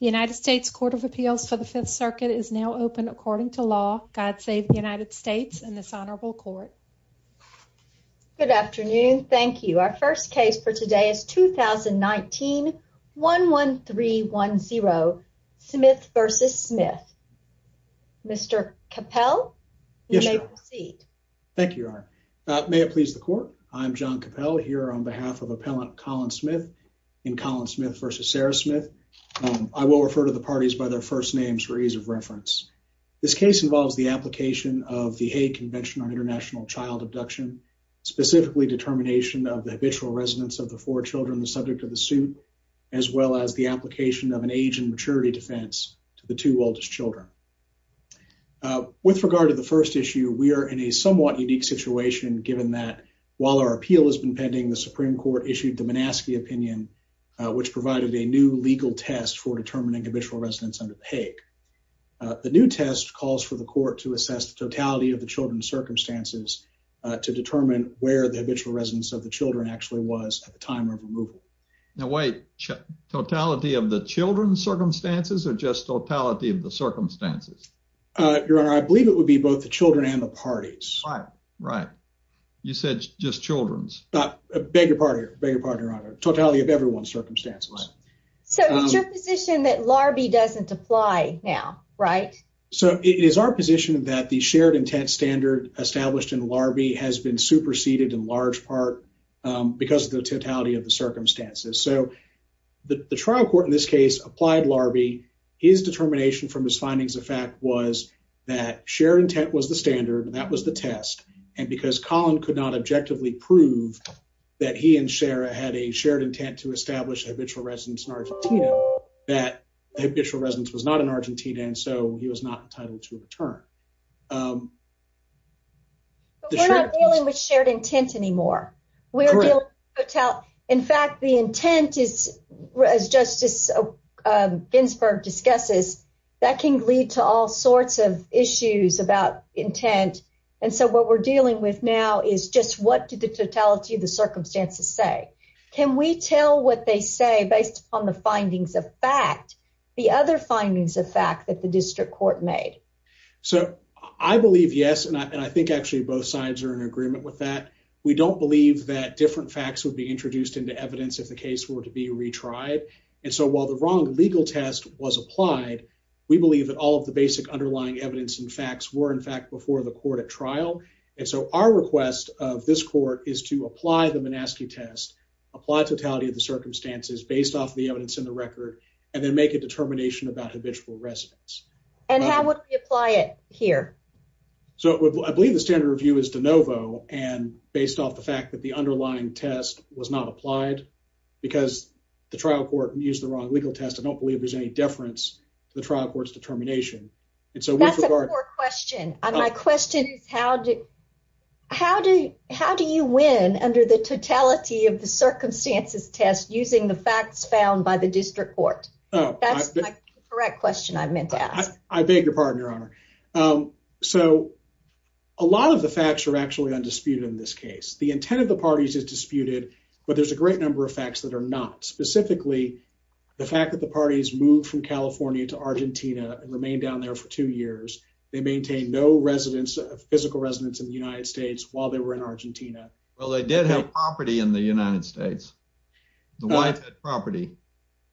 United States Court of Appeals for the Fifth Circuit is now open according to law. God save the United States and this honorable court. Good afternoon. Thank you. Our first case for today is 2019 11310 Smith versus Smith. Mr Capel, you may proceed. Thank you. May it please the court. I'm John Capel here on behalf of appellant Colin Smith in Colin Smith versus Sarah Smith. I will refer to the parties by their first names for ease of reference. This case involves the application of the Hague Convention on International Child Abduction, specifically determination of the habitual residence of the four Children, the subject of the suit, as well as the application of an age and maturity defense to the two oldest Children. With regard to the first issue, we're in a somewhat unique situation, given that while our appeal has been pending, the Supreme Court issued the Minaski opinion, which provided a new legal test for determining habitual residence under the Hague. The new test calls for the court to assess the totality of the Children's circumstances to determine where the habitual residence of the Children actually was at the time of removal. Now, wait, totality of the Children's circumstances or just totality of the circumstances? Your honor, I believe it would be both the Children and the parties, right? You said just Children's. Beg your pardon. Beg your pardon, your honor. Totality of everyone's circumstances. So it's your position that Larbi doesn't apply now, right? So it is our position that the shared intent standard established in Larbi has been superseded in large part because of the totality of the circumstances. So the trial court in this case applied Larbi. His determination from his findings of fact was that shared intent was the standard and that was the test. And because Colin could not objectively prove that he and Sarah had a shared intent to establish a habitual residence in Argentina, that habitual residence was not in Argentina. And so he was not entitled to return. Um, we're not dealing with shared intent anymore. We're hotel. In fact, the intent is, as Justice Ginsburg discusses, that can lead to all sorts of issues about intent. And so what we're dealing with now is just what did the totality of the circumstances say? Can we tell what they say based upon the findings of fact, the other findings of fact that the district court made? So I believe yes, and I think actually both sides are in agreement with that. We don't believe that different facts would be introduced into evidence if the case were to be retried. And so, while the wrong legal test was applied, we believe that all of the basic underlying evidence and facts were in fact before the court at trial. And so our request of this court is to apply the monastic test, apply totality of the circumstances based off the evidence in the record and then make a determination about habitual residence. And how would we apply it here? So I believe the standard review is de novo and based off the fact that the underlying test was not applied because the trial court used the wrong legal test. I don't believe there's any deference to the trial court's determination. And so that's a poor question. My question is, how do how do how do you win under the totality of the circumstances test using the facts found by the district court? That's correct question. I meant to ask. I beg your pardon, Your Honor. Um, so a lot of the facts are actually undisputed in this case. The intent of the parties is facts that are not specifically the fact that the parties moved from California to Argentina and remained down there for two years. They maintain no residents of physical residents in the United States while they were in Argentina. Well, they did have property in the United States. The wife had property.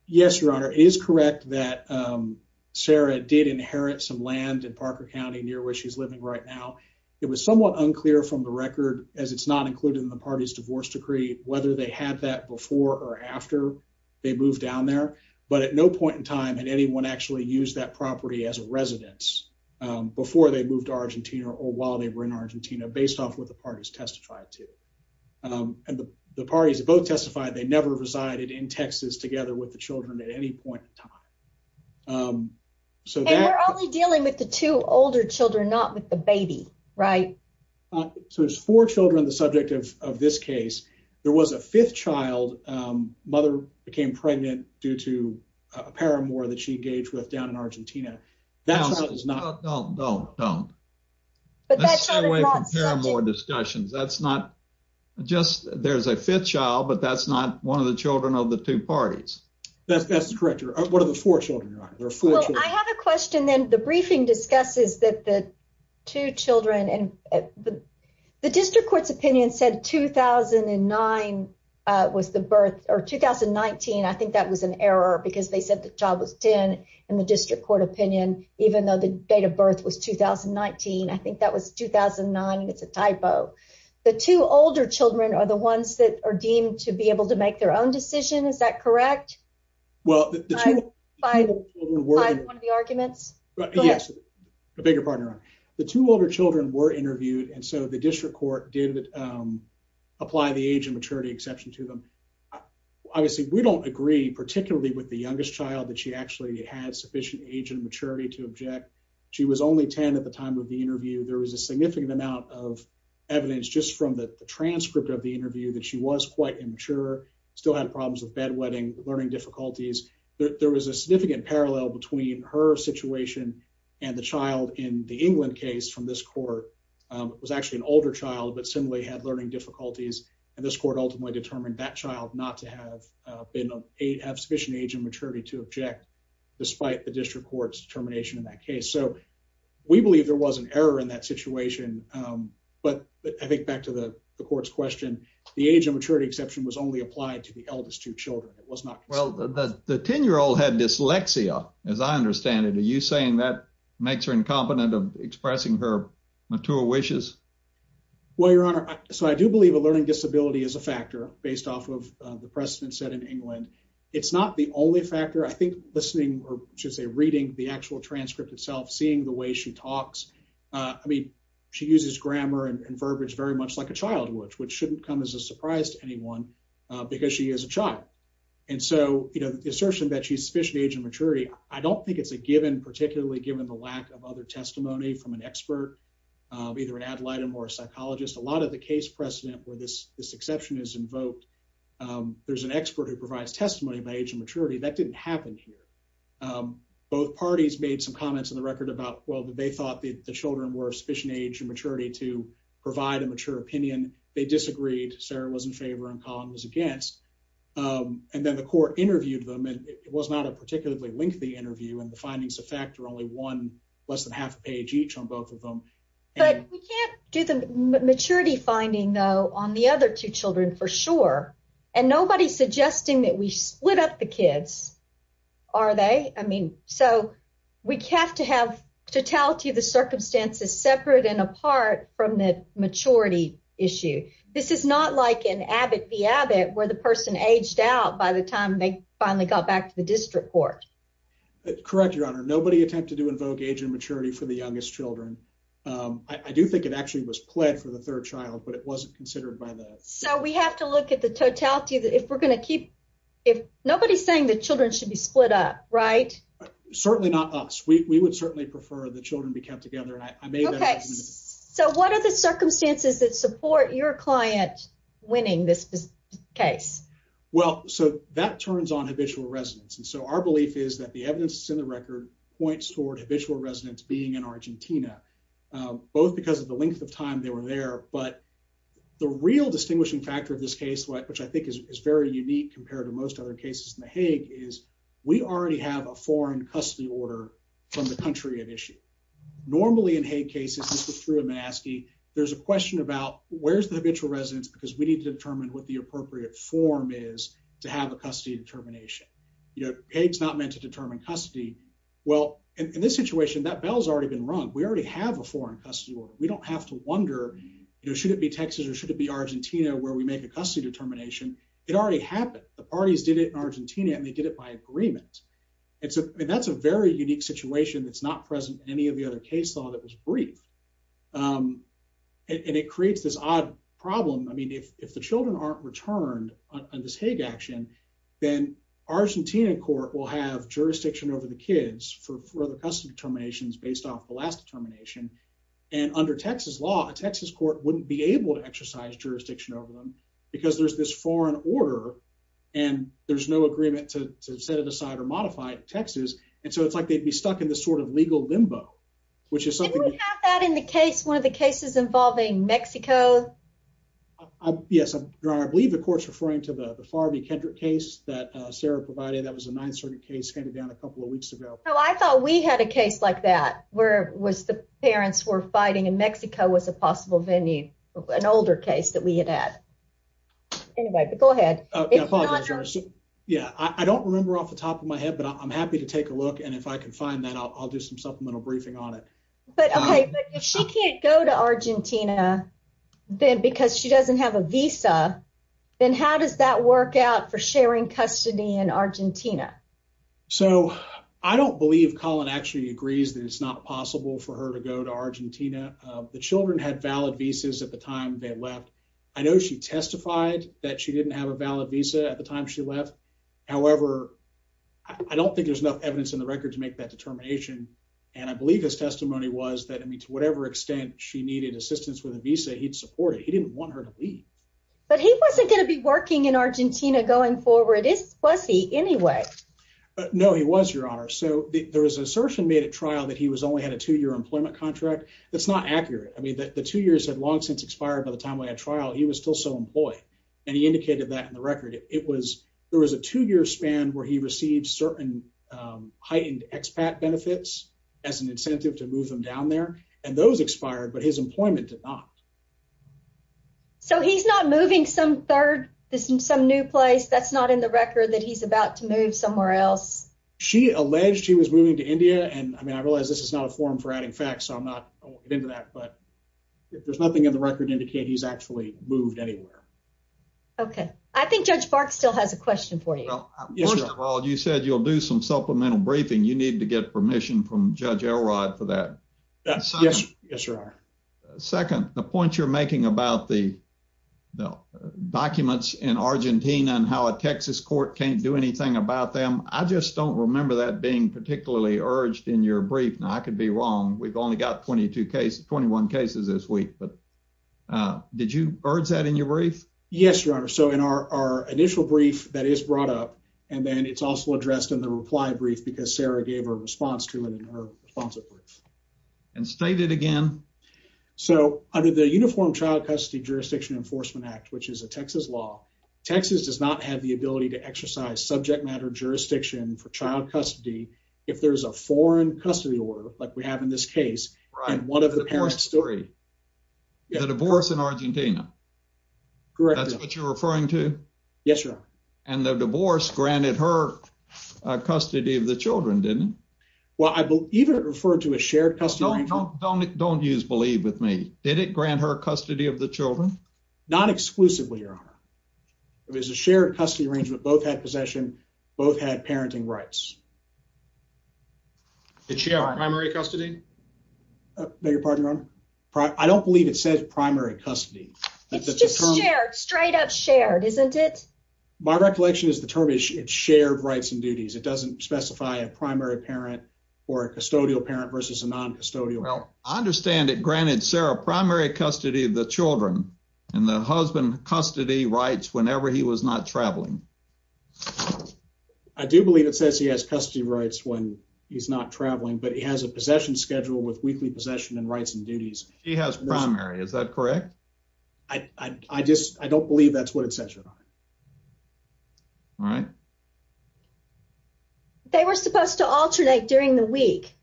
Yes, Your Honor is correct that, um, Sarah did inherit some land in Parker County, near where she's living right now. It was somewhat unclear from the record, as it's not included in the party's divorce decree, whether they had that before or after they moved down there. But at no point in time had anyone actually used that property as a residence before they moved to Argentina or while they were in Argentina, based off what the parties testified to. Um, and the parties both testified they never resided in Texas together with the Children at any point in time. Um, so we're only dealing with the two older Children, not with the baby, right? So there's four Children. The subject of this case, there was a fifth child mother became pregnant due to a paramour that she engaged with down in Argentina. That's not no, no, no. But that's a way for more discussions. That's not just there's a fifth child, but that's not one of the Children of the two parties. That's correct. What are the four Children? I have a question. Then the briefing discusses that the two Children and the district court's opinion said 2000 and nine was the birth or 2019. I think that was an error because they said the job was 10 in the district court opinion, even though the date of birth was 2019. I think that was 2009. It's a typo. The two older Children are the ones that are deemed to be able to make their own decision. Is that correct? Well, five arguments. Yes, a bigger partner. The two older Children were interviewed, and so the district court did, um, apply the age and maturity exception to them. Obviously, we don't agree, particularly with the youngest child that she actually had sufficient age and maturity to object. She was only 10. At the time of the interview, there was a significant amount of evidence just from the transcript of the interview that she was quite immature, still had problems with bedwetting, learning difficulties. There was a significant parallel between her situation and the child in the England case from this court was actually an older child, but similarly had learning difficulties. And this court ultimately determined that child not to have been a have sufficient age and maturity to object despite the district court's termination in that case. So we believe there was an error in that situation. But I think back to the court's question, the age of maturity exception was only applied to the eldest two Children. It was not well, the 10 year old had dyslexia. As I understand it, are you saying that makes her incompetent of expressing her mature wishes? Well, Your Honor, so I do believe a learning disability is a factor based off of the precedent set in England. It's not the only factor. I think listening or just a reading the actual transcript itself, seeing the way she talks. I mean, she uses grammar and verbiage very much like a child would, which shouldn't come as a surprise to anyone because she is a child. And so, you know, the assertion that she's sufficient age and maturity. I don't think it's a given, particularly given the lack of other testimony from an expert, either an ad litem or a psychologist. A lot of the case precedent where this exception is invoked. Um, there's an expert who provides testimony by age and maturity that didn't happen here. Um, both parties made some comments in the record about well that they thought the Children were sufficient age and was in favor and column was against. Um, and then the court interviewed them, and it was not a particularly lengthy interview, and the findings effect or only one less than half a page each on both of them. But we can't do the maturity finding, though, on the other two Children for sure. And nobody's suggesting that we split up the kids. Are they? I mean, so we have to have totality of the circumstances separate and apart from the maturity issue. This is not like an Abbott the Abbott, where the person aged out by the time they finally got back to the district court. Correct, Your Honor. Nobody attempted to invoke age and maturity for the youngest Children. I do think it actually was pled for the third child, but it wasn't considered by that. So we have to look at the totality that if we're gonna keep if nobody's saying that Children should be split up, right? Certainly not us. We would certainly prefer the Children be kept together. I made. So what are the circumstances that support your client winning this case? Well, so that turns on habitual residents. And so our belief is that the evidence in the record points toward habitual residents being in Argentina, both because of the length of time they were there. But the real distinguishing factor of this case, which I think is very unique compared to most other cases in the Hague, is we already have a foreign custody order from the country at issue. Normally, in Hague cases, this was through a mask. He there's a question about where's the habitual residents because we need to determine what the appropriate form is to have a custody determination. You know, it's not meant to determine custody. Well, in this situation, that bell's already been wrong. We already have a foreign custody order. We don't have to wonder, you know, should it be Texas or should it be Argentina where we make a custody determination? It already happened. The parties did it in agreement. And so that's a very unique situation that's not present in any of the other case law that was brief. Um, and it creates this odd problem. I mean, if the Children aren't returned on this Hague action, then Argentina court will have jurisdiction over the kids for further custom determinations based off the last determination. And under Texas law, Texas court wouldn't be able to exercise jurisdiction over them because there's this foreign order and there's no agreement to set it aside or modified Texas. And so it's like they'd be stuck in this sort of legal limbo, which is something that in the case, one of the cases involving Mexico. Yes, I believe the courts referring to the Farby Kendrick case that Sarah provided. That was a ninth circuit case handed down a couple of weeks ago. I thought we had a case like that. Where was the parents were fighting in Mexico was a possible venue. An older case that we had at anybody. Go ahead. Yeah, I don't remember off the top of my head, but I'm happy to take a look. And if I could find that I'll do some supplemental briefing on it. But she can't go to Argentina then because she doesn't have a visa. Then how does that work out for sharing custody in Argentina? So I don't believe Colin actually agrees that it's not possible for her to go to visas at the time they left. I know she testified that she didn't have a valid visa at the time she left. However, I don't think there's enough evidence in the record to make that determination. And I believe his testimony was that I mean, to whatever extent she needed assistance with a visa, he'd support it. He didn't want her to leave, but he wasn't gonna be working in Argentina going forward. It's pussy anyway. No, he was your honor. So there was assertion made a trial that he was only had a two year employment contract. That's not accurate. I mean, the two years had long since expired by the time we had trial. He was still so employed, and he indicated that in the record. It was there was a two year span where he received certain heightened expat benefits as an incentive to move them down there, and those expired. But his employment did not. So he's not moving some third, some new place that's not in the record that he's about to move somewhere else. She alleged he was moving to India. And I realize this is not a form for adding facts. I'm not into that, but there's nothing in the record indicate he's actually moved anywhere. Okay, I think Judge Park still has a question for you. Well, you said you'll do some supplemental briefing. You need to get permission from Judge Elrod for that. That's yes, sir. Second, the point you're making about the documents in Argentina and how a Texas court can't do anything about them. I just don't remember that being particularly urged in your brief. Now I could be wrong. We've only got 22 cases, 21 cases this week. But, uh, did you urge that in your brief? Yes, Your Honor. So in our initial brief that is brought up, and then it's also addressed in the reply brief because Sarah gave her response to it in her sponsor brief and stated again. So under the Uniform Child Custody Jurisdiction Enforcement Act, which is a Texas law, Texas does not have the ability to exercise subject matter jurisdiction for child custody if there's a foreign custody order like we have in this case and one of the parents story, the divorce in Argentina. Correct. That's what you're referring to. Yes, Your Honor. And the divorce granted her custody of the Children didn't well, I believe it referred to a shared custody. Don't don't don't use believe with me. Did it grant her custody of the Children? Not exclusively, Your Honor. It was a shared custody arrangement. Both had possession. Both had parenting rights. It's your primary custody. I beg your pardon, Your Honor. I don't believe it says primary custody. It's just shared straight up shared, isn't it? My recollection is the term is shared rights and duties. It doesn't specify a primary parent or a custodial parent versus a non custodial. I understand it granted Sarah primary custody of the husband custody rights whenever he was not traveling. I do believe it says he has custody rights when he's not traveling, but he has a possession schedule with weekly possession and rights and duties. He has primary. Is that correct? I just I don't believe that's what it says, Your Honor. All right. They were supposed to alternate during the week.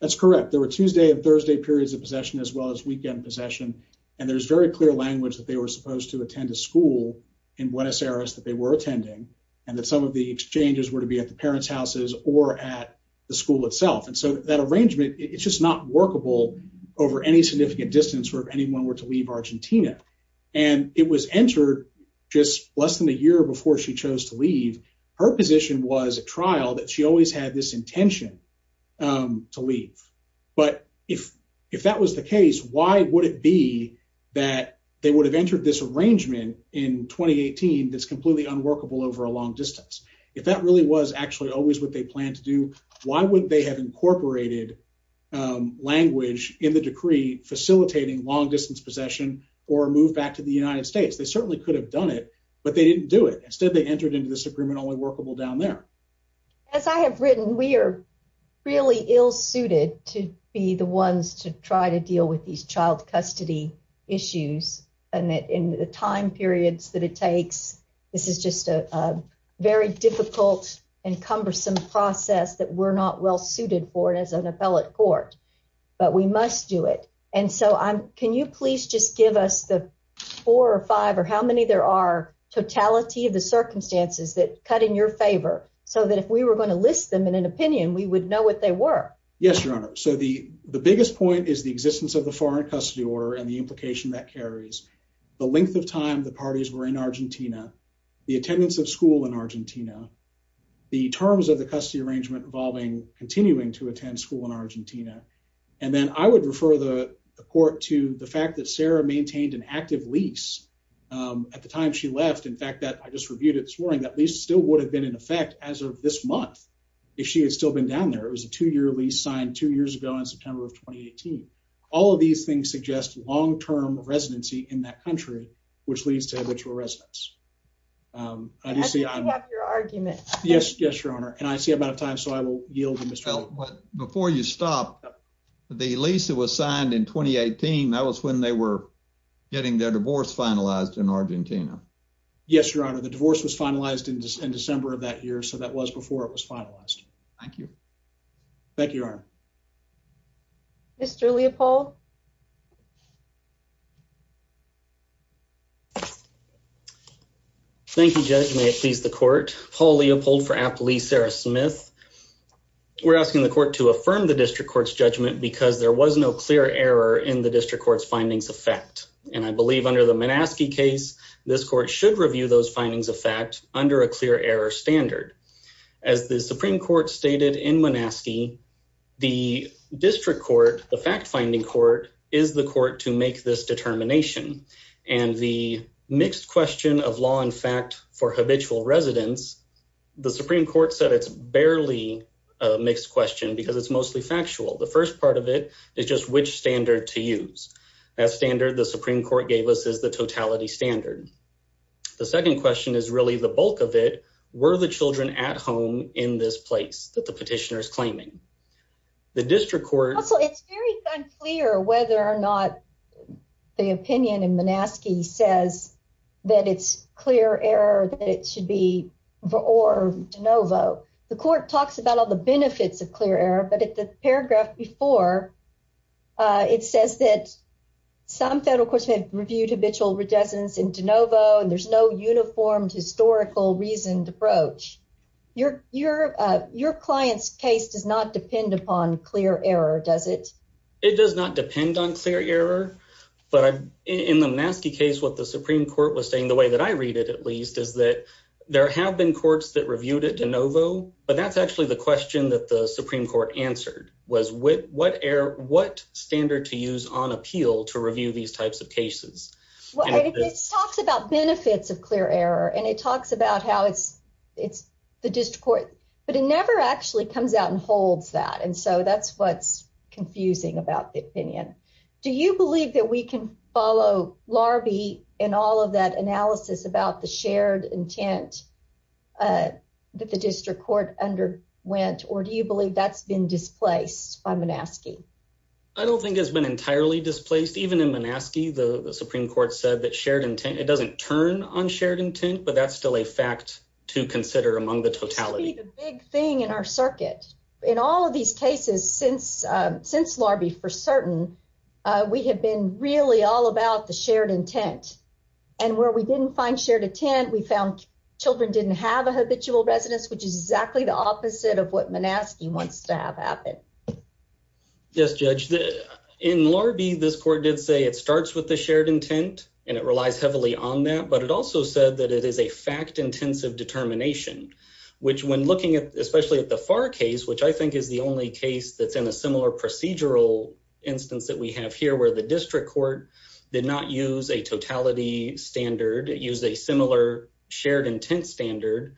That's correct. There were Tuesday and Thursday periods of possession as well as weekend possession, and there's very clear language that they were supposed to attend a school in Buenos Aires that they were attending and that some of the exchanges were to be at the parents houses or at the school itself. And so that arrangement it's just not workable over any significant distance for anyone were to leave Argentina, and it was entered just less than a year before she chose to leave. Her position was a trial that she always had this intention, um, to be that they would have entered this arrangement in 2018. That's completely unworkable over a long distance. If that really was actually always what they plan to do, why would they have incorporated language in the decree facilitating long distance possession or move back to the United States? They certainly could have done it, but they didn't do it. Instead, they entered into this agreement only workable down there. As I have written, we're really ill suited to be the ones to try to deal with these child custody issues and that in the time periods that it takes, this is just a very difficult and cumbersome process that we're not well suited for it as an appellate court. But we must do it. And so I'm Can you please just give us the four or five or how many there are totality of the circumstances that cut in your favor so that if we were going to list them in an opinion, we would know what they were. Yes, Your Honor. So the biggest point is the existence of the foreign custody order and the implication that carries the length of time the parties were in Argentina, the attendance of school in Argentina, the terms of the custody arrangement involving continuing to attend school in Argentina. And then I would refer the court to the fact that Sarah maintained an active lease at the time she left. In fact, that I just reviewed it this morning. At least still would have been in effect as of this month. If she had still been down there, it was a two year lease signed two years ago in September of 2018. All of these things suggest long term residency in that country, which leads to habitual residence. Um, obviously, I'm your argument. Yes. Yes, Your Honor. And I see about time, so I will yield. But before you stop the lease that was signed in 2018, that was when they were getting their divorce finalized in Argentina. Yes, Your Honor. The divorce was finalized in December of that year, so that was before it was finalized. Thank you. Thank you, Your Honor. Mr Leopold. Thank you, Judge. May it please the court. Paul Leopold for Appley. Sarah Smith. We're asking the court to affirm the district court's judgment because there was no clear error in the district court's findings of fact, and I believe under the Minaski case, this court should review those findings of fact under a clear error standard. As the Supreme Court stated in Minaski, the district court, the fact finding court is the court to make this determination and the mixed question of law and fact for habitual residence. The Supreme Court said it's barely a mixed question because it's mostly factual. The first part of it is just which standard to use. That standard the Supreme Court gave us is the totality standard. The second question is really the bulk of it. Were the Children at home in this place that the petitioners claiming the district court? So it's very unclear whether or not the opinion in Minaski says that it's clear error that it should be for or de novo. The court talks about all the benefits of clear error, but at paragraph before, uh, it says that some federal courts have reviewed habitual residence in de novo, and there's no uniformed historical reasoned approach. Your your your client's case does not depend upon clear error, does it? It does not depend on clear error, but I'm in the Maskey case. What the Supreme Court was saying the way that I read it, at least is that there have been courts that reviewed it de novo, but that's actually the question that the was with what air? What standard to use on appeal to review these types of cases? Well, it talks about benefits of clear error, and it talks about how it's it's the district court, but it never actually comes out and holds that. And so that's what's confusing about the opinion. Do you believe that we can follow larvae in all of that analysis about the shared intent? Uh, the district court underwent or do you believe that's been displaced? I'm asking. I don't think it's been entirely displaced. Even in Manaski, the Supreme Court said that shared intent. It doesn't turn on shared intent, but that's still a fact to consider among the totality. The big thing in our circuit in all of these cases since since larvae for certain we have been really all about the shared intent and where we didn't find shared intent. We found Children didn't have a habitual residence, which is exactly the opposite of what Manaski wants to have happen. Yes, Judge. In larvae, this court did say it starts with the shared intent, and it relies heavily on that. But it also said that it is a fact intensive determination, which when looking at especially at the far case, which I think is the only case that's in a similar procedural instance that we have here, where the district court did not use a totality standard used a similar shared intent standard.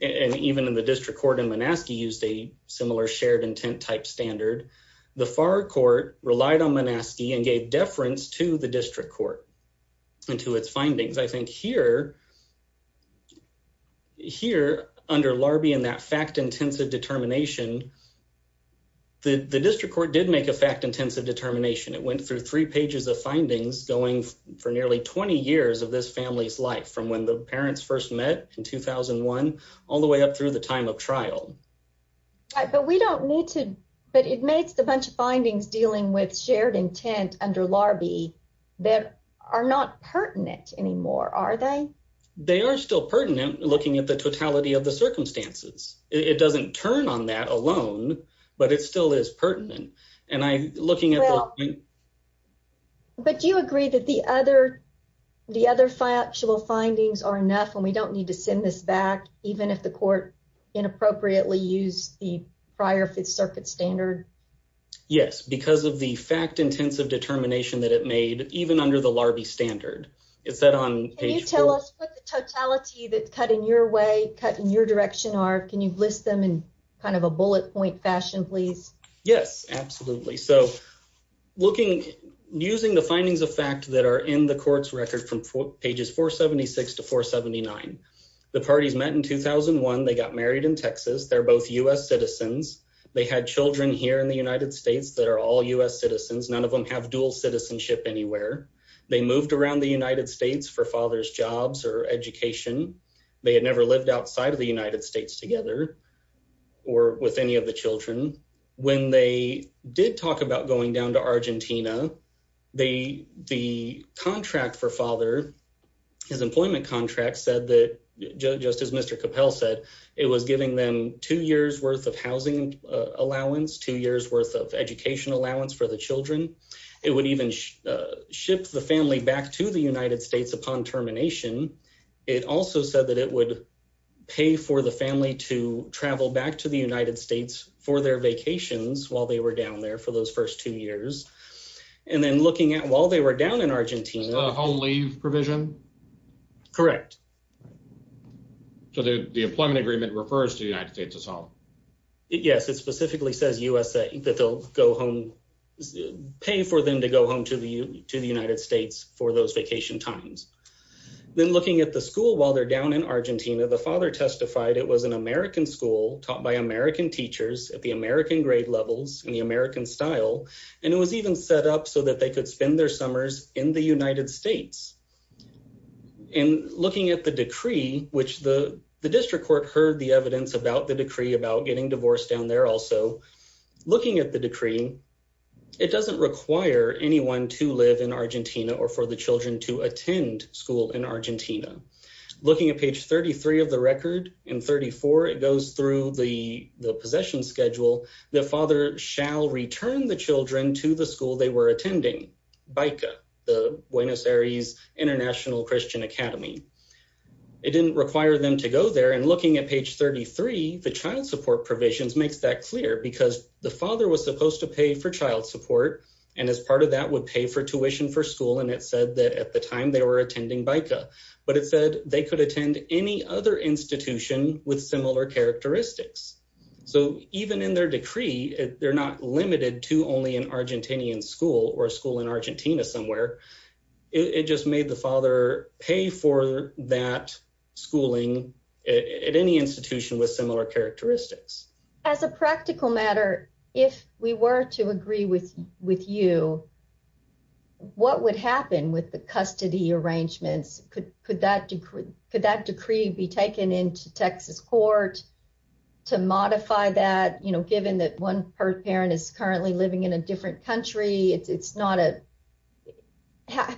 And even in the district court in Manaski used a similar shared intent type standard. The far court relied on Manaski and gave deference to the district court and to its findings. I think here here under larvae in that fact intensive determination, the district court did make a fact intensive determination. It went through three pages of findings going for nearly 20 years of this family's life from when the parents first met in 2001 all the way up through the time of trial. But we don't need to. But it makes a bunch of findings dealing with shared intent under larvae that are not pertinent anymore, are they? They are still pertinent looking at the totality of the circumstances. It doesn't turn on that alone, but it still is pertinent. And I looking at you. But do you agree that the other the other factual findings are enough and we don't need to send this back even if the court inappropriately used the prior Fifth Circuit standard? Yes, because of the fact intensive determination that it made even under the larvae standard. Is that on? Can you tell us what the totality that cut in your way cut in your direction are? Can you list them in kind of a bullet point fashion, please? Yes, absolutely. So looking using the findings of fact that are in the court's record from pages 476 to 479, the parties met in 2001. They got married in Texas. They're both U. S. Citizens. They had Children here in the United States that are all U. S. Citizens. None of them have dual citizenship anywhere. They moved around the United States for father's jobs or education. They had never lived outside of the United States together or with any of the Children. When they did talk about going down to Argentina, the contract for father, his employment contract said that, just as Mr Capel said, it was giving them two years worth of housing allowance, two years worth of education allowance for the Children. It would even ship the family back to the United States. Upon termination, it also said that it would pay for the family to travel back to the United States for their vacations while they were down there for those first two years. And then looking at while they were down in Argentina, I'll leave provision correct. So the employment agreement refers to the United States is home. Yes, it specifically says U. S. A. That they'll go home, pay for them to go home to the to the United States for those vacation times. Then looking at the school while they're down in Argentina, the father testified it was an American school taught by American teachers at the American grade levels in the American style, and it was even set up so that they could spend their summers in the United States. And looking at the decree, which the district court heard the evidence about the decree about getting divorced down there also looking at the decree, it doesn't require anyone to live in Argentina or for the Children to attend school in Argentina. Looking at page 33 of the record in 34, it goes through the possession schedule. The father shall return the Children to the school they were attending by the Buenos Aires International Christian Academy. It didn't require them to go there. And looking at page 33, the child support provisions makes that clear because the father was supposed to pay for child support, and as part of that would pay for tuition for school. And it said that at the time they were attending Bica, but it said they could attend any other institution with similar characteristics. So even in their decree, they're not limited to only an Argentinian school or school in Argentina somewhere. It just made the father pay for that schooling at any institution with similar characteristics as a practical matter. If we were to agree with you, what would happen with the custody arrangements? Could that decree be taken into Texas court to modify that, you know, given that one parent is currently living in a different country? It's not a...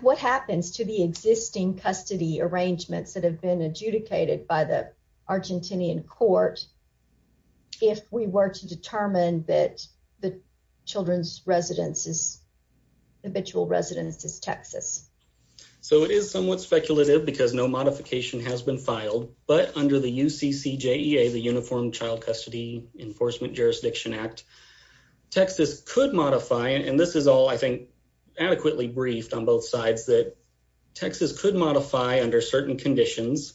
What happens to the existing custody arrangements that have been adjudicated by the Argentinian court if we were to determine that the Children's residence is habitual residence is Texas. So it is somewhat speculative because no modification has been filed. But under the U. C. C. J. E. A. The Uniform Child Custody Enforcement Jurisdiction Act, Texas could modify. And this is all, I think, adequately briefed on both sides that Texas could modify under certain conditions,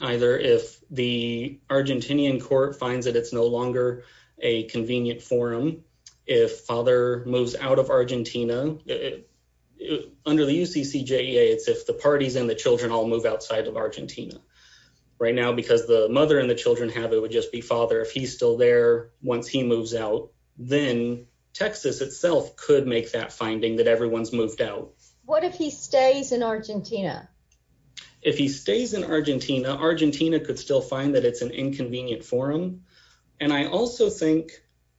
either if the Argentinian court finds that it's no longer a convenient forum. If father moves out of Argentina, under the U. C. C. J. E. A. It's if the parties and the Children all move outside of Argentina right now, because the mother and the Children have it would just be father. If he's still there once he moves out, then Texas itself could make that finding that everyone's moved out. What if he stays in Argentina? If he stays in Argentina, Argentina could still find that it's an inconvenient forum. And I also think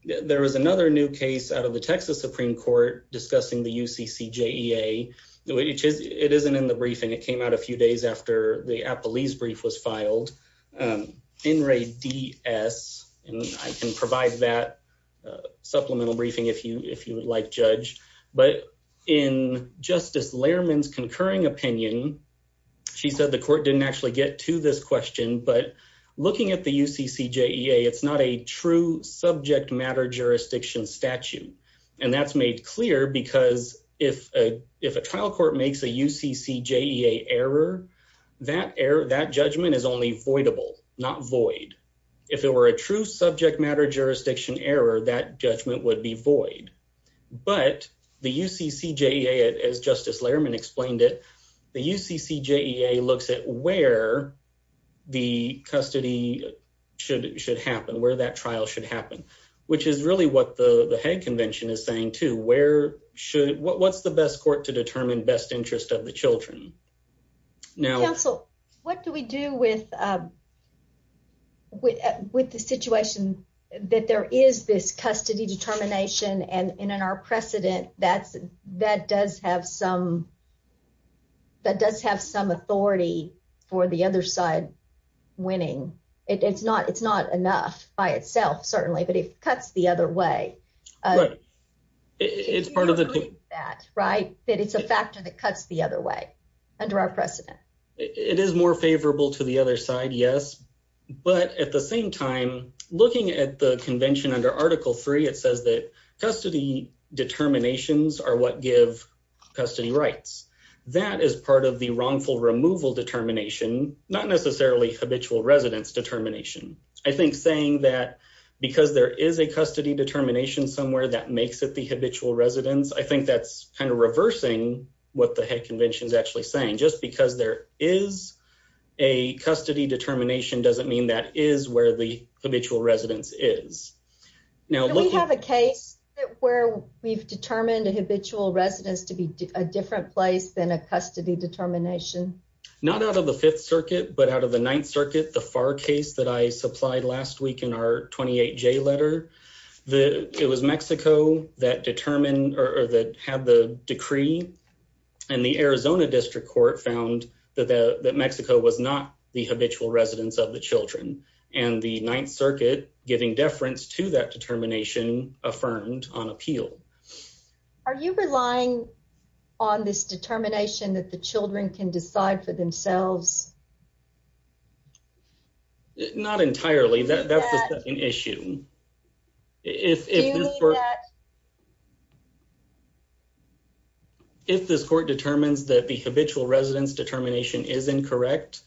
there is another new case out of the Texas Supreme Court discussing the U. C. C. J. E. A. Which is it isn't in the briefing. It came out a few days after the Apple East brief was filed. Um, in Ray D. S. And I can provide that supplemental briefing if you if you like, Judge. But in Justice Lehrman's concurring opinion, she said the court didn't actually get to this question. But looking at the U. C. C. J. E. A. It's not a true subject matter jurisdiction statute, and that's made clear because if if a trial court makes a U. C. C. J. E. A. Error that air that judgment is only avoidable, not void. If there were a true subject matter jurisdiction error, that judgment would be void. But the U. C. C. J. A. A. As Justice Lehrman explained it, the U. C. C. J. E. A. Looks at where the custody should should happen where that trial should happen, which is really what the head convention is saying to where should what? What's the best court to determine best interest of the Children? Now, Council, what do we do with with with the situation that there is this custody determination and in our precedent? That's that does have some that does have some authority for the other side winning. It's not. It's not enough by itself, certainly. But if cuts the other way, it's part of that, right? But it's a factor that cuts the other way under our precedent. It is more favorable to the other side. Yes. But at the same time, looking at the convention under Article three, it says that custody determinations are what give custody rights. That is part of the wrongful removal determination, not necessarily habitual residents determination. I think saying that because there is a custody determination somewhere that makes it habitual residents. I think that's kind of reversing what the head convention is actually saying. Just because there is a custody determination doesn't mean that is where the habitual residents is. Now, we have a case where we've determined a habitual residents to be a different place than a custody determination. Not out of the Fifth Circuit, but out of the Ninth Circuit, the far case that I supplied last week in our 28 J letter that it was Mexico that determined or that had the decree and the Arizona District Court found that Mexico was not the habitual residents of the Children and the Ninth Circuit, giving deference to that determination affirmed on appeal. Are you relying on this determination that the Children can decide for themselves? Not entirely. That's an issue. If if this court determines that the habitual residents determination is incorrect,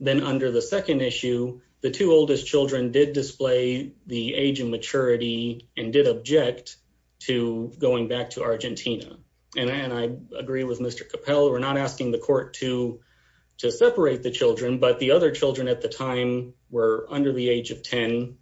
then under the second issue, the two oldest Children did display the age and maturity and did object to going back to Argentina. And I agree with Mr Capel. We're not asking the court to to separate the Children, but the other Children at the time were under the age of 10.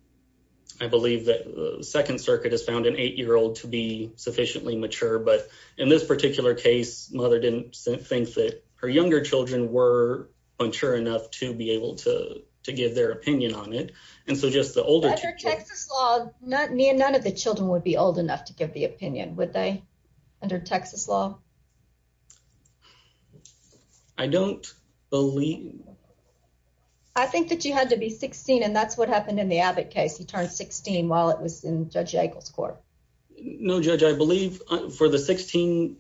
I believe that the Second Circuit has found an eight year old to be sufficiently mature. But in this particular case, mother didn't think that her younger Children were mature enough to be able to give their opinion on it. And so just the older Texas law, not me and none of the Children would be old enough to give the opinion. Would they under Texas law? I don't believe I think that you had to be 16. And that's what happened in the Abbott case. He turned 16 while it was in Judge Eagles Court. No, Judge, I believe for the 16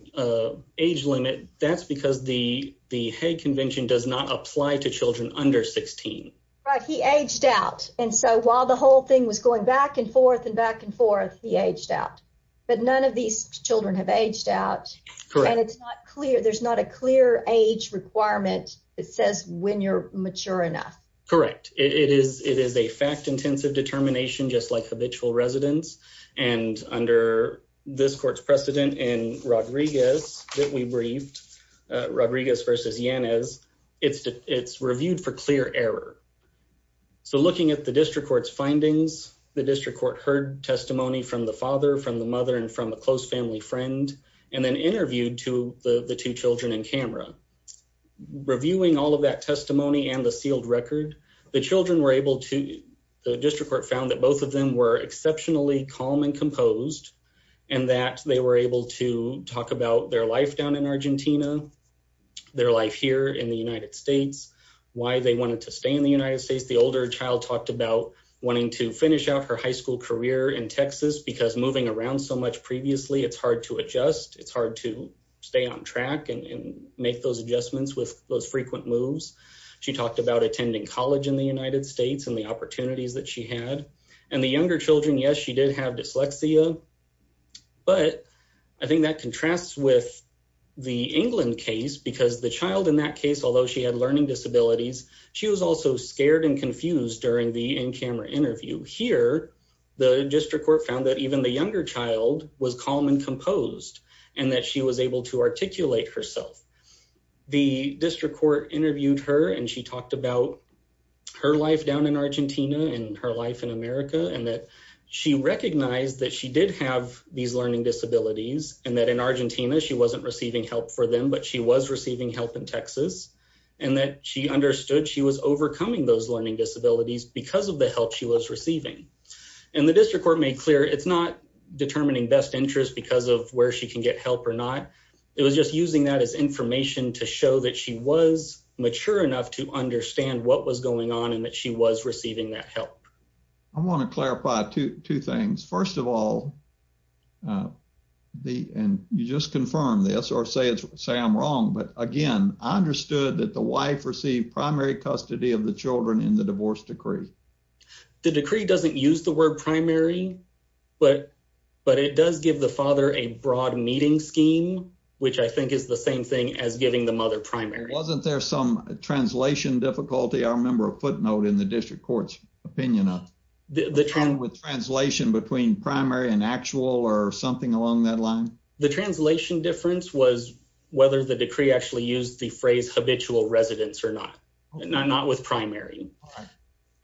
age limit, that's because the the Hay Convention does not apply to Children under 16. He aged out. And so while the whole thing was going back and forth and back and forth, he aged out. But none of these Children have aged out, and it's not clear. There's not a clear age requirement that says when you're mature enough, correct? It is. It is a fact intensive determination, just like habitual residents. And under this court's precedent in Rodriguez that we briefed Rodriguez versus Yanez, it's it's reviewed for clear error. So looking at the district court's findings, the district court heard testimony from the father, from the mother and from a close family friend, and then interviewed to the two Children in camera. Reviewing all of that testimony and the sealed record, the Children were able to. The district court found that both of them were exceptionally calm and composed and that they were able to talk about their life down in Argentina, their life here in the United States, why they wanted to stay in the United States. The older child talked about wanting to finish out her high school career in Texas because moving around so much previously, it's hard to adjust. It's hard to stay on track and make those adjustments with those frequent moves. She talked about attending college in the United States and the opportunities that she had and the younger Children. Yes, she did have dyslexia, but I think that contrasts with the England case because the child in that case, although she had learning disabilities, she was also scared and confused during the in camera interview here. The district court found that even the younger child was calm and composed and that she was able to articulate herself. The district court interviewed her and she talked about her life down in Argentina and her life in America and that she recognized that she did have these learning disabilities and that in Argentina she wasn't receiving help for them, but she was receiving help in Texas and that she understood she was overcoming those learning disabilities because of the help she was receiving. And the district court made clear it's not determining best interest because of where she can get help or not. It was just using that as information to show that she was mature enough to understand what was going on and that she was receiving that help. I want to clarify two things. First of all, uh, the and you just confirm this or say it's say I'm wrong. But again, I understood that the wife received primary custody of the Children in the divorce decree. The decree doesn't use the word primary, but but it does give the father a broad meeting scheme, which I think is the same thing as giving the mother primary. Wasn't there some translation difficulty? I remember a footnote in the district court's opinion of the term with translation between primary and actual or something along that line. The translation difference was whether the decree actually used the phrase habitual residents or not, not with primary.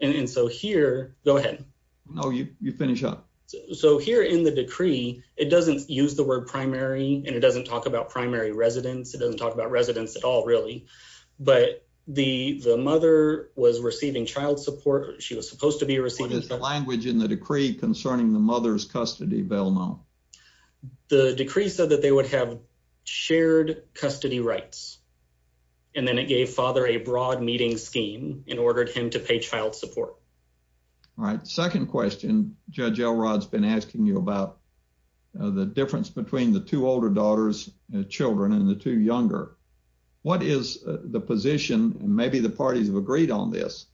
And so here go ahead. No, you finish up. So here in the decree, it doesn't use the word primary, and it doesn't talk about primary residents. It doesn't talk about residents at all, really. But the mother was receiving child support. She was supposed to be receiving language in the decree concerning the mother's custody rights, and then it gave father a broad meeting scheme and ordered him to pay child support. All right. Second question. Judge Elrod's been asking you about the difference between the two older daughters and Children and the two younger. What is the position? Maybe the parties have agreed on this.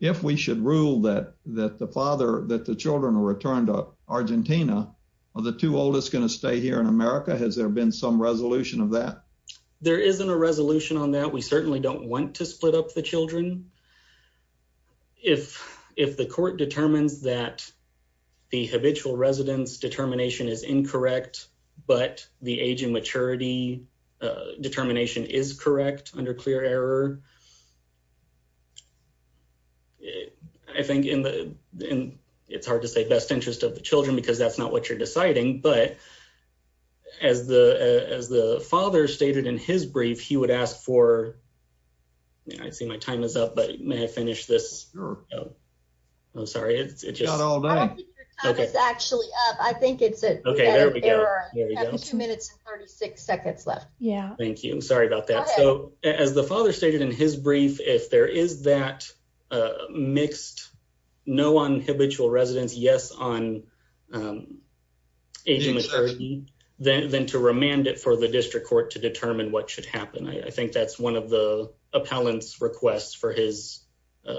If we should rule that that the father that the Children returned up Argentina or the two oldest going to stay here in America. Has there been some resolution of that? There isn't a resolution on that. We certainly don't want to split up the Children. If if the court determines that the habitual residents determination is incorrect, but the age and maturity determination is correct under clear error, I think in the it's hard to say best interest of the Children because that's not what you're deciding. But as the as the father stated in his brief, he would ask for. I see my time is up, but may I finish this? Oh, I'm sorry. It's just all right. Okay. Actually, I think it's okay. There we go. Two minutes and 36 seconds left. Yeah, thank you. I'm sorry about that. So as the father stated in his brief, if there is that mixed, no one habitual residents. Yes, on, um, agent, then to remand it for the district court to determine what should happen. I think that's one of the appellants requests for his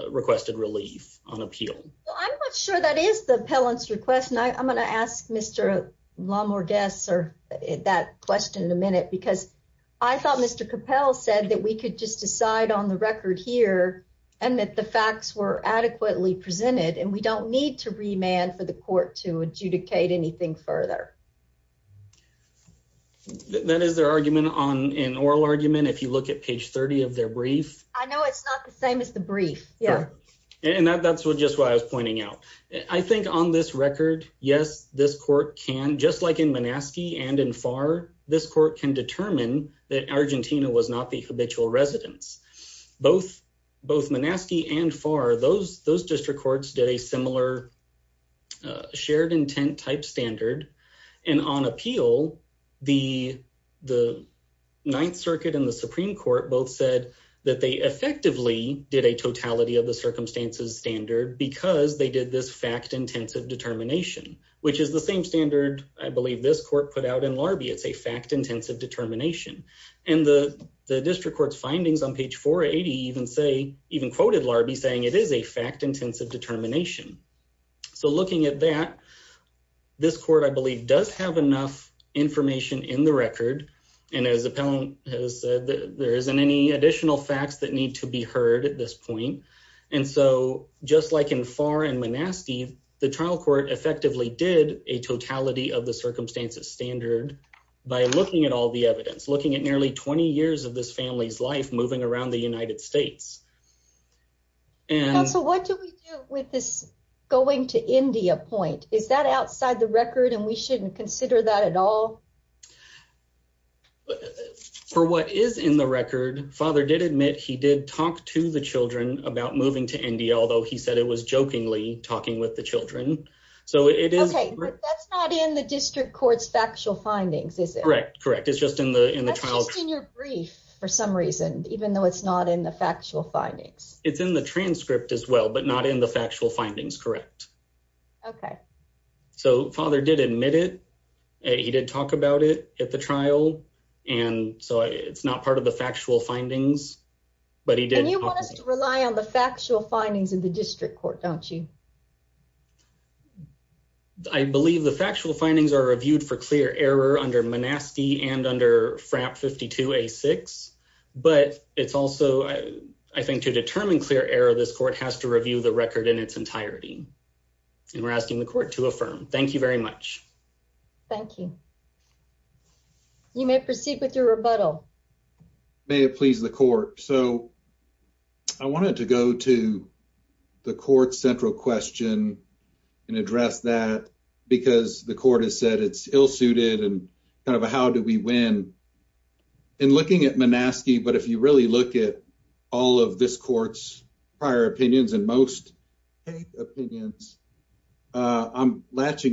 requested relief on appeal. I'm not sure that is the pellets request. And I'm gonna ask Mr. Lawmore guests or that question in a minute because I thought Mr Kapel said that we could just decide on the record here and that the facts were adequately presented, and we don't need to remand for the court to adjudicate anything further. That is their argument on an oral argument. If you look at page 30 of their brief, I know it's not the same as the brief. Yeah, and that that's what just what I was pointing out. I think on this record. Yes, this court can just like in Manaski and in far, this court can determine that Argentina was not the habitual residents. Both both Manaski and far those those district courts did a similar, uh, shared intent type standard. And on appeal, the the Ninth Circuit in the Supreme Court both said that they effectively did a totality of the circumstances standard because they did this fact intensive determination, which is the same standard. I believe this court put out in larvae. It's a fact intensive determination, and the district court's findings on page 4 80 even say even quoted larvae, saying it is a fact intensive determination. So looking at that, this court, I believe, does have enough information in the record. And as a pound has said, there isn't any additional facts that need to be heard at this point. And so just like in far and Manaski, the trial court effectively did a totality of the circumstances standard by looking at all the evidence, looking at nearly 20 years of this family's life moving around the United States. And so what do we do with this going to India point? Is that outside the record? And we shouldn't consider that at all. For what is in the record, father did admit he did talk to the Children about moving to India, although he said it was jokingly talking with the Children. So it is not in the district court's factual findings. Is it correct? Correct. It's just in the in the child in your brief for some reason, even though it's not in the factual findings, it's in the transcript as well, but not in the factual findings. Correct. Okay, so father did admit it. He did talk about it at the trial, and so it's not part of the factual findings, but he rely on the factual findings in the district court, don't you? I believe the factual findings are reviewed for clear error under Manaski and under FRAP 52 a six. But it's also I think to determine clear error, this court has to review the record in its entirety, and we're asking the court to affirm. Thank you very much. Thank you. You may proceed with your rebuttal. May it please the court. So I wanted to go to the court's central question and address that because the court has said it's ill suited and kind of how do we win in looking at Manaski? But if you really look at all of this court's prior opinions and most opinions, I'm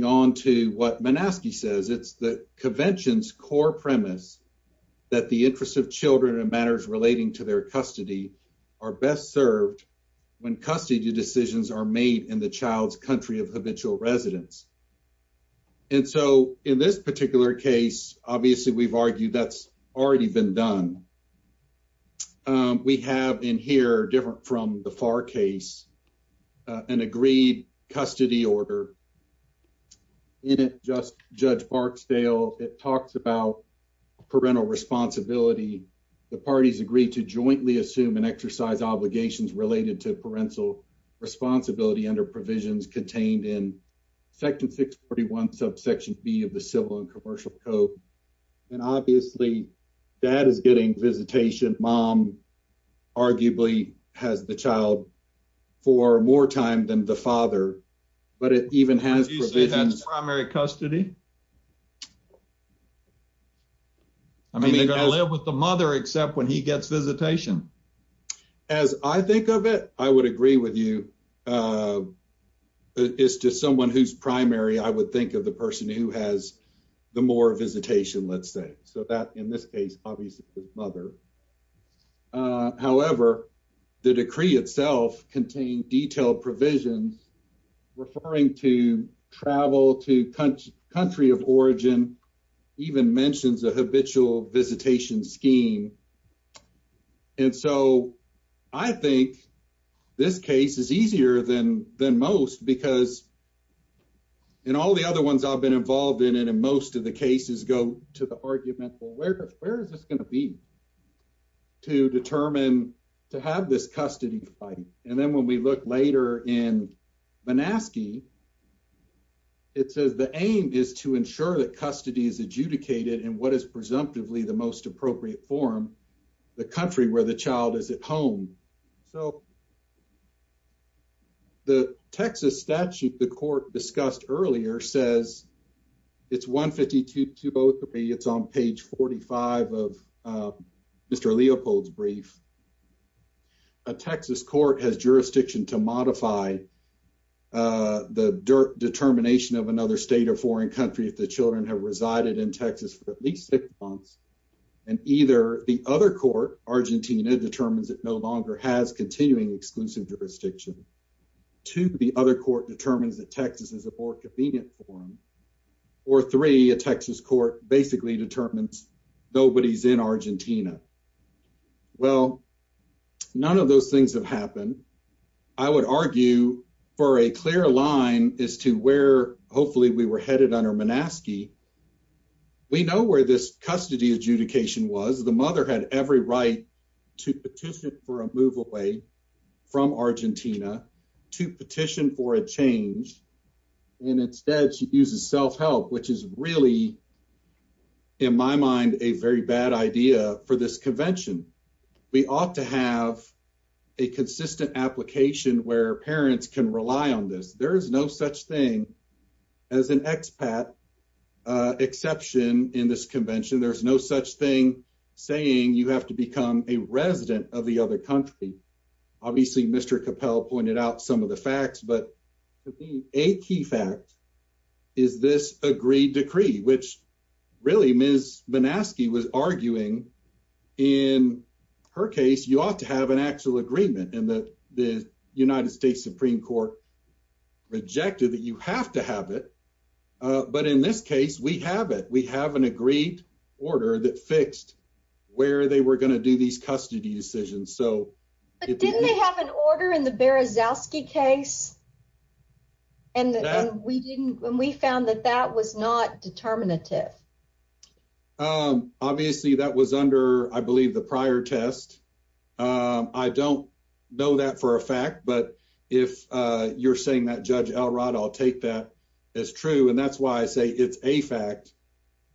on to what Manaski says. It's the convention's core premise that the interest of Children and matters relating to their custody are best served when custody decisions are made in the child's country of habitual residence. And so in this particular case, obviously, we've argued that's already been done. We have in here, different from the far case, an agreed custody order. In it, just Judge Barksdale. It talks about parental responsibility. The parties agreed to jointly assume and exercise obligations related to parental responsibility under provisions contained in section 6 41 subsection B of the Civil and Commercial Code. And obviously, dad is getting visitation. Mom arguably has the child for more time than the primary custody. I mean, they're gonna live with the mother except when he gets visitation. As I think of it, I would agree with you. Uh, it's just someone who's primary. I would think of the person who has the more visitation, let's say so that in this case, obviously his mother. Uh, however, the decree itself contained detailed provisions referring to travel to country of origin even mentions a habitual visitation scheme. And so I think this case is easier than than most because and all the other ones I've been involved in. And in most of the cases go to the argument. Where? Where is this gonna be to determine to have this custody fighting? And then when we look later in Manaski, it says the aim is to ensure that custody is adjudicated and what is presumptively the most appropriate form the country where the child is at home. So the Texas statute the court discussed earlier says it's 1 52 to both of me. It's on page 45 of Mr Leopold's brief. A Texas court has jurisdiction to modify the determination of another state of foreign country. If the Children have resided in Texas for at least six months and either the other court, Argentina determines it no longer has continuing exclusive jurisdiction to the other court determines that Texas is a more convenient for him or three. A none of those things have happened. I would argue for a clear line is to where hopefully we were headed under Manaski. We know where this custody adjudication was. The mother had every right to petition for a move away from Argentina to petition for a change. And instead she uses self help, which is really in my mind, a very bad idea for this convention. We ought to have a consistent application where parents can rely on this. There is no such thing as an expat exception in this convention. There's no such thing saying you have to become a resident of the other country. Obviously, Mr Capel pointed out some of the facts, but a key fact is this agreed decree, which really Miss Manaski was arguing. In her case, you ought to have an actual agreement in the United States Supreme Court rejected that you have to have it. But in this case, we have it. We have an agreed order that fixed where they were gonna do these custody decisions. So didn't they have an order in the Zosky case? And we didn't when we found that that was not determinative. Um, obviously that was under, I believe the prior test. Um, I don't know that for a fact, but if you're saying that Judge Elrod, I'll take that is true. And that's why I say it's a fact.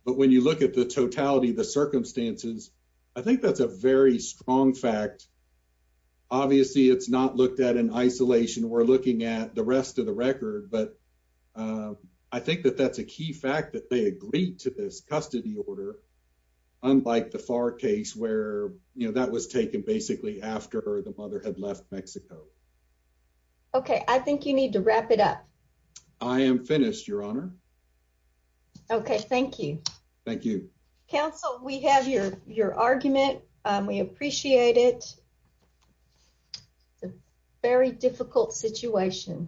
But when you look at the totality of the circumstances, I think that's a very strong fact. Obviously, it's not looked at in isolation. We're looking at the rest of the record. But, uh, I think that that's a key fact that they agreed to this custody order. Unlike the far case where that was taken basically after the mother had left Mexico. Okay, I think you need to wrap it up. I am finished, Your Honor. Okay, thank you. Thank you, Counsel. We have your argument. We appreciate it. Very difficult situation.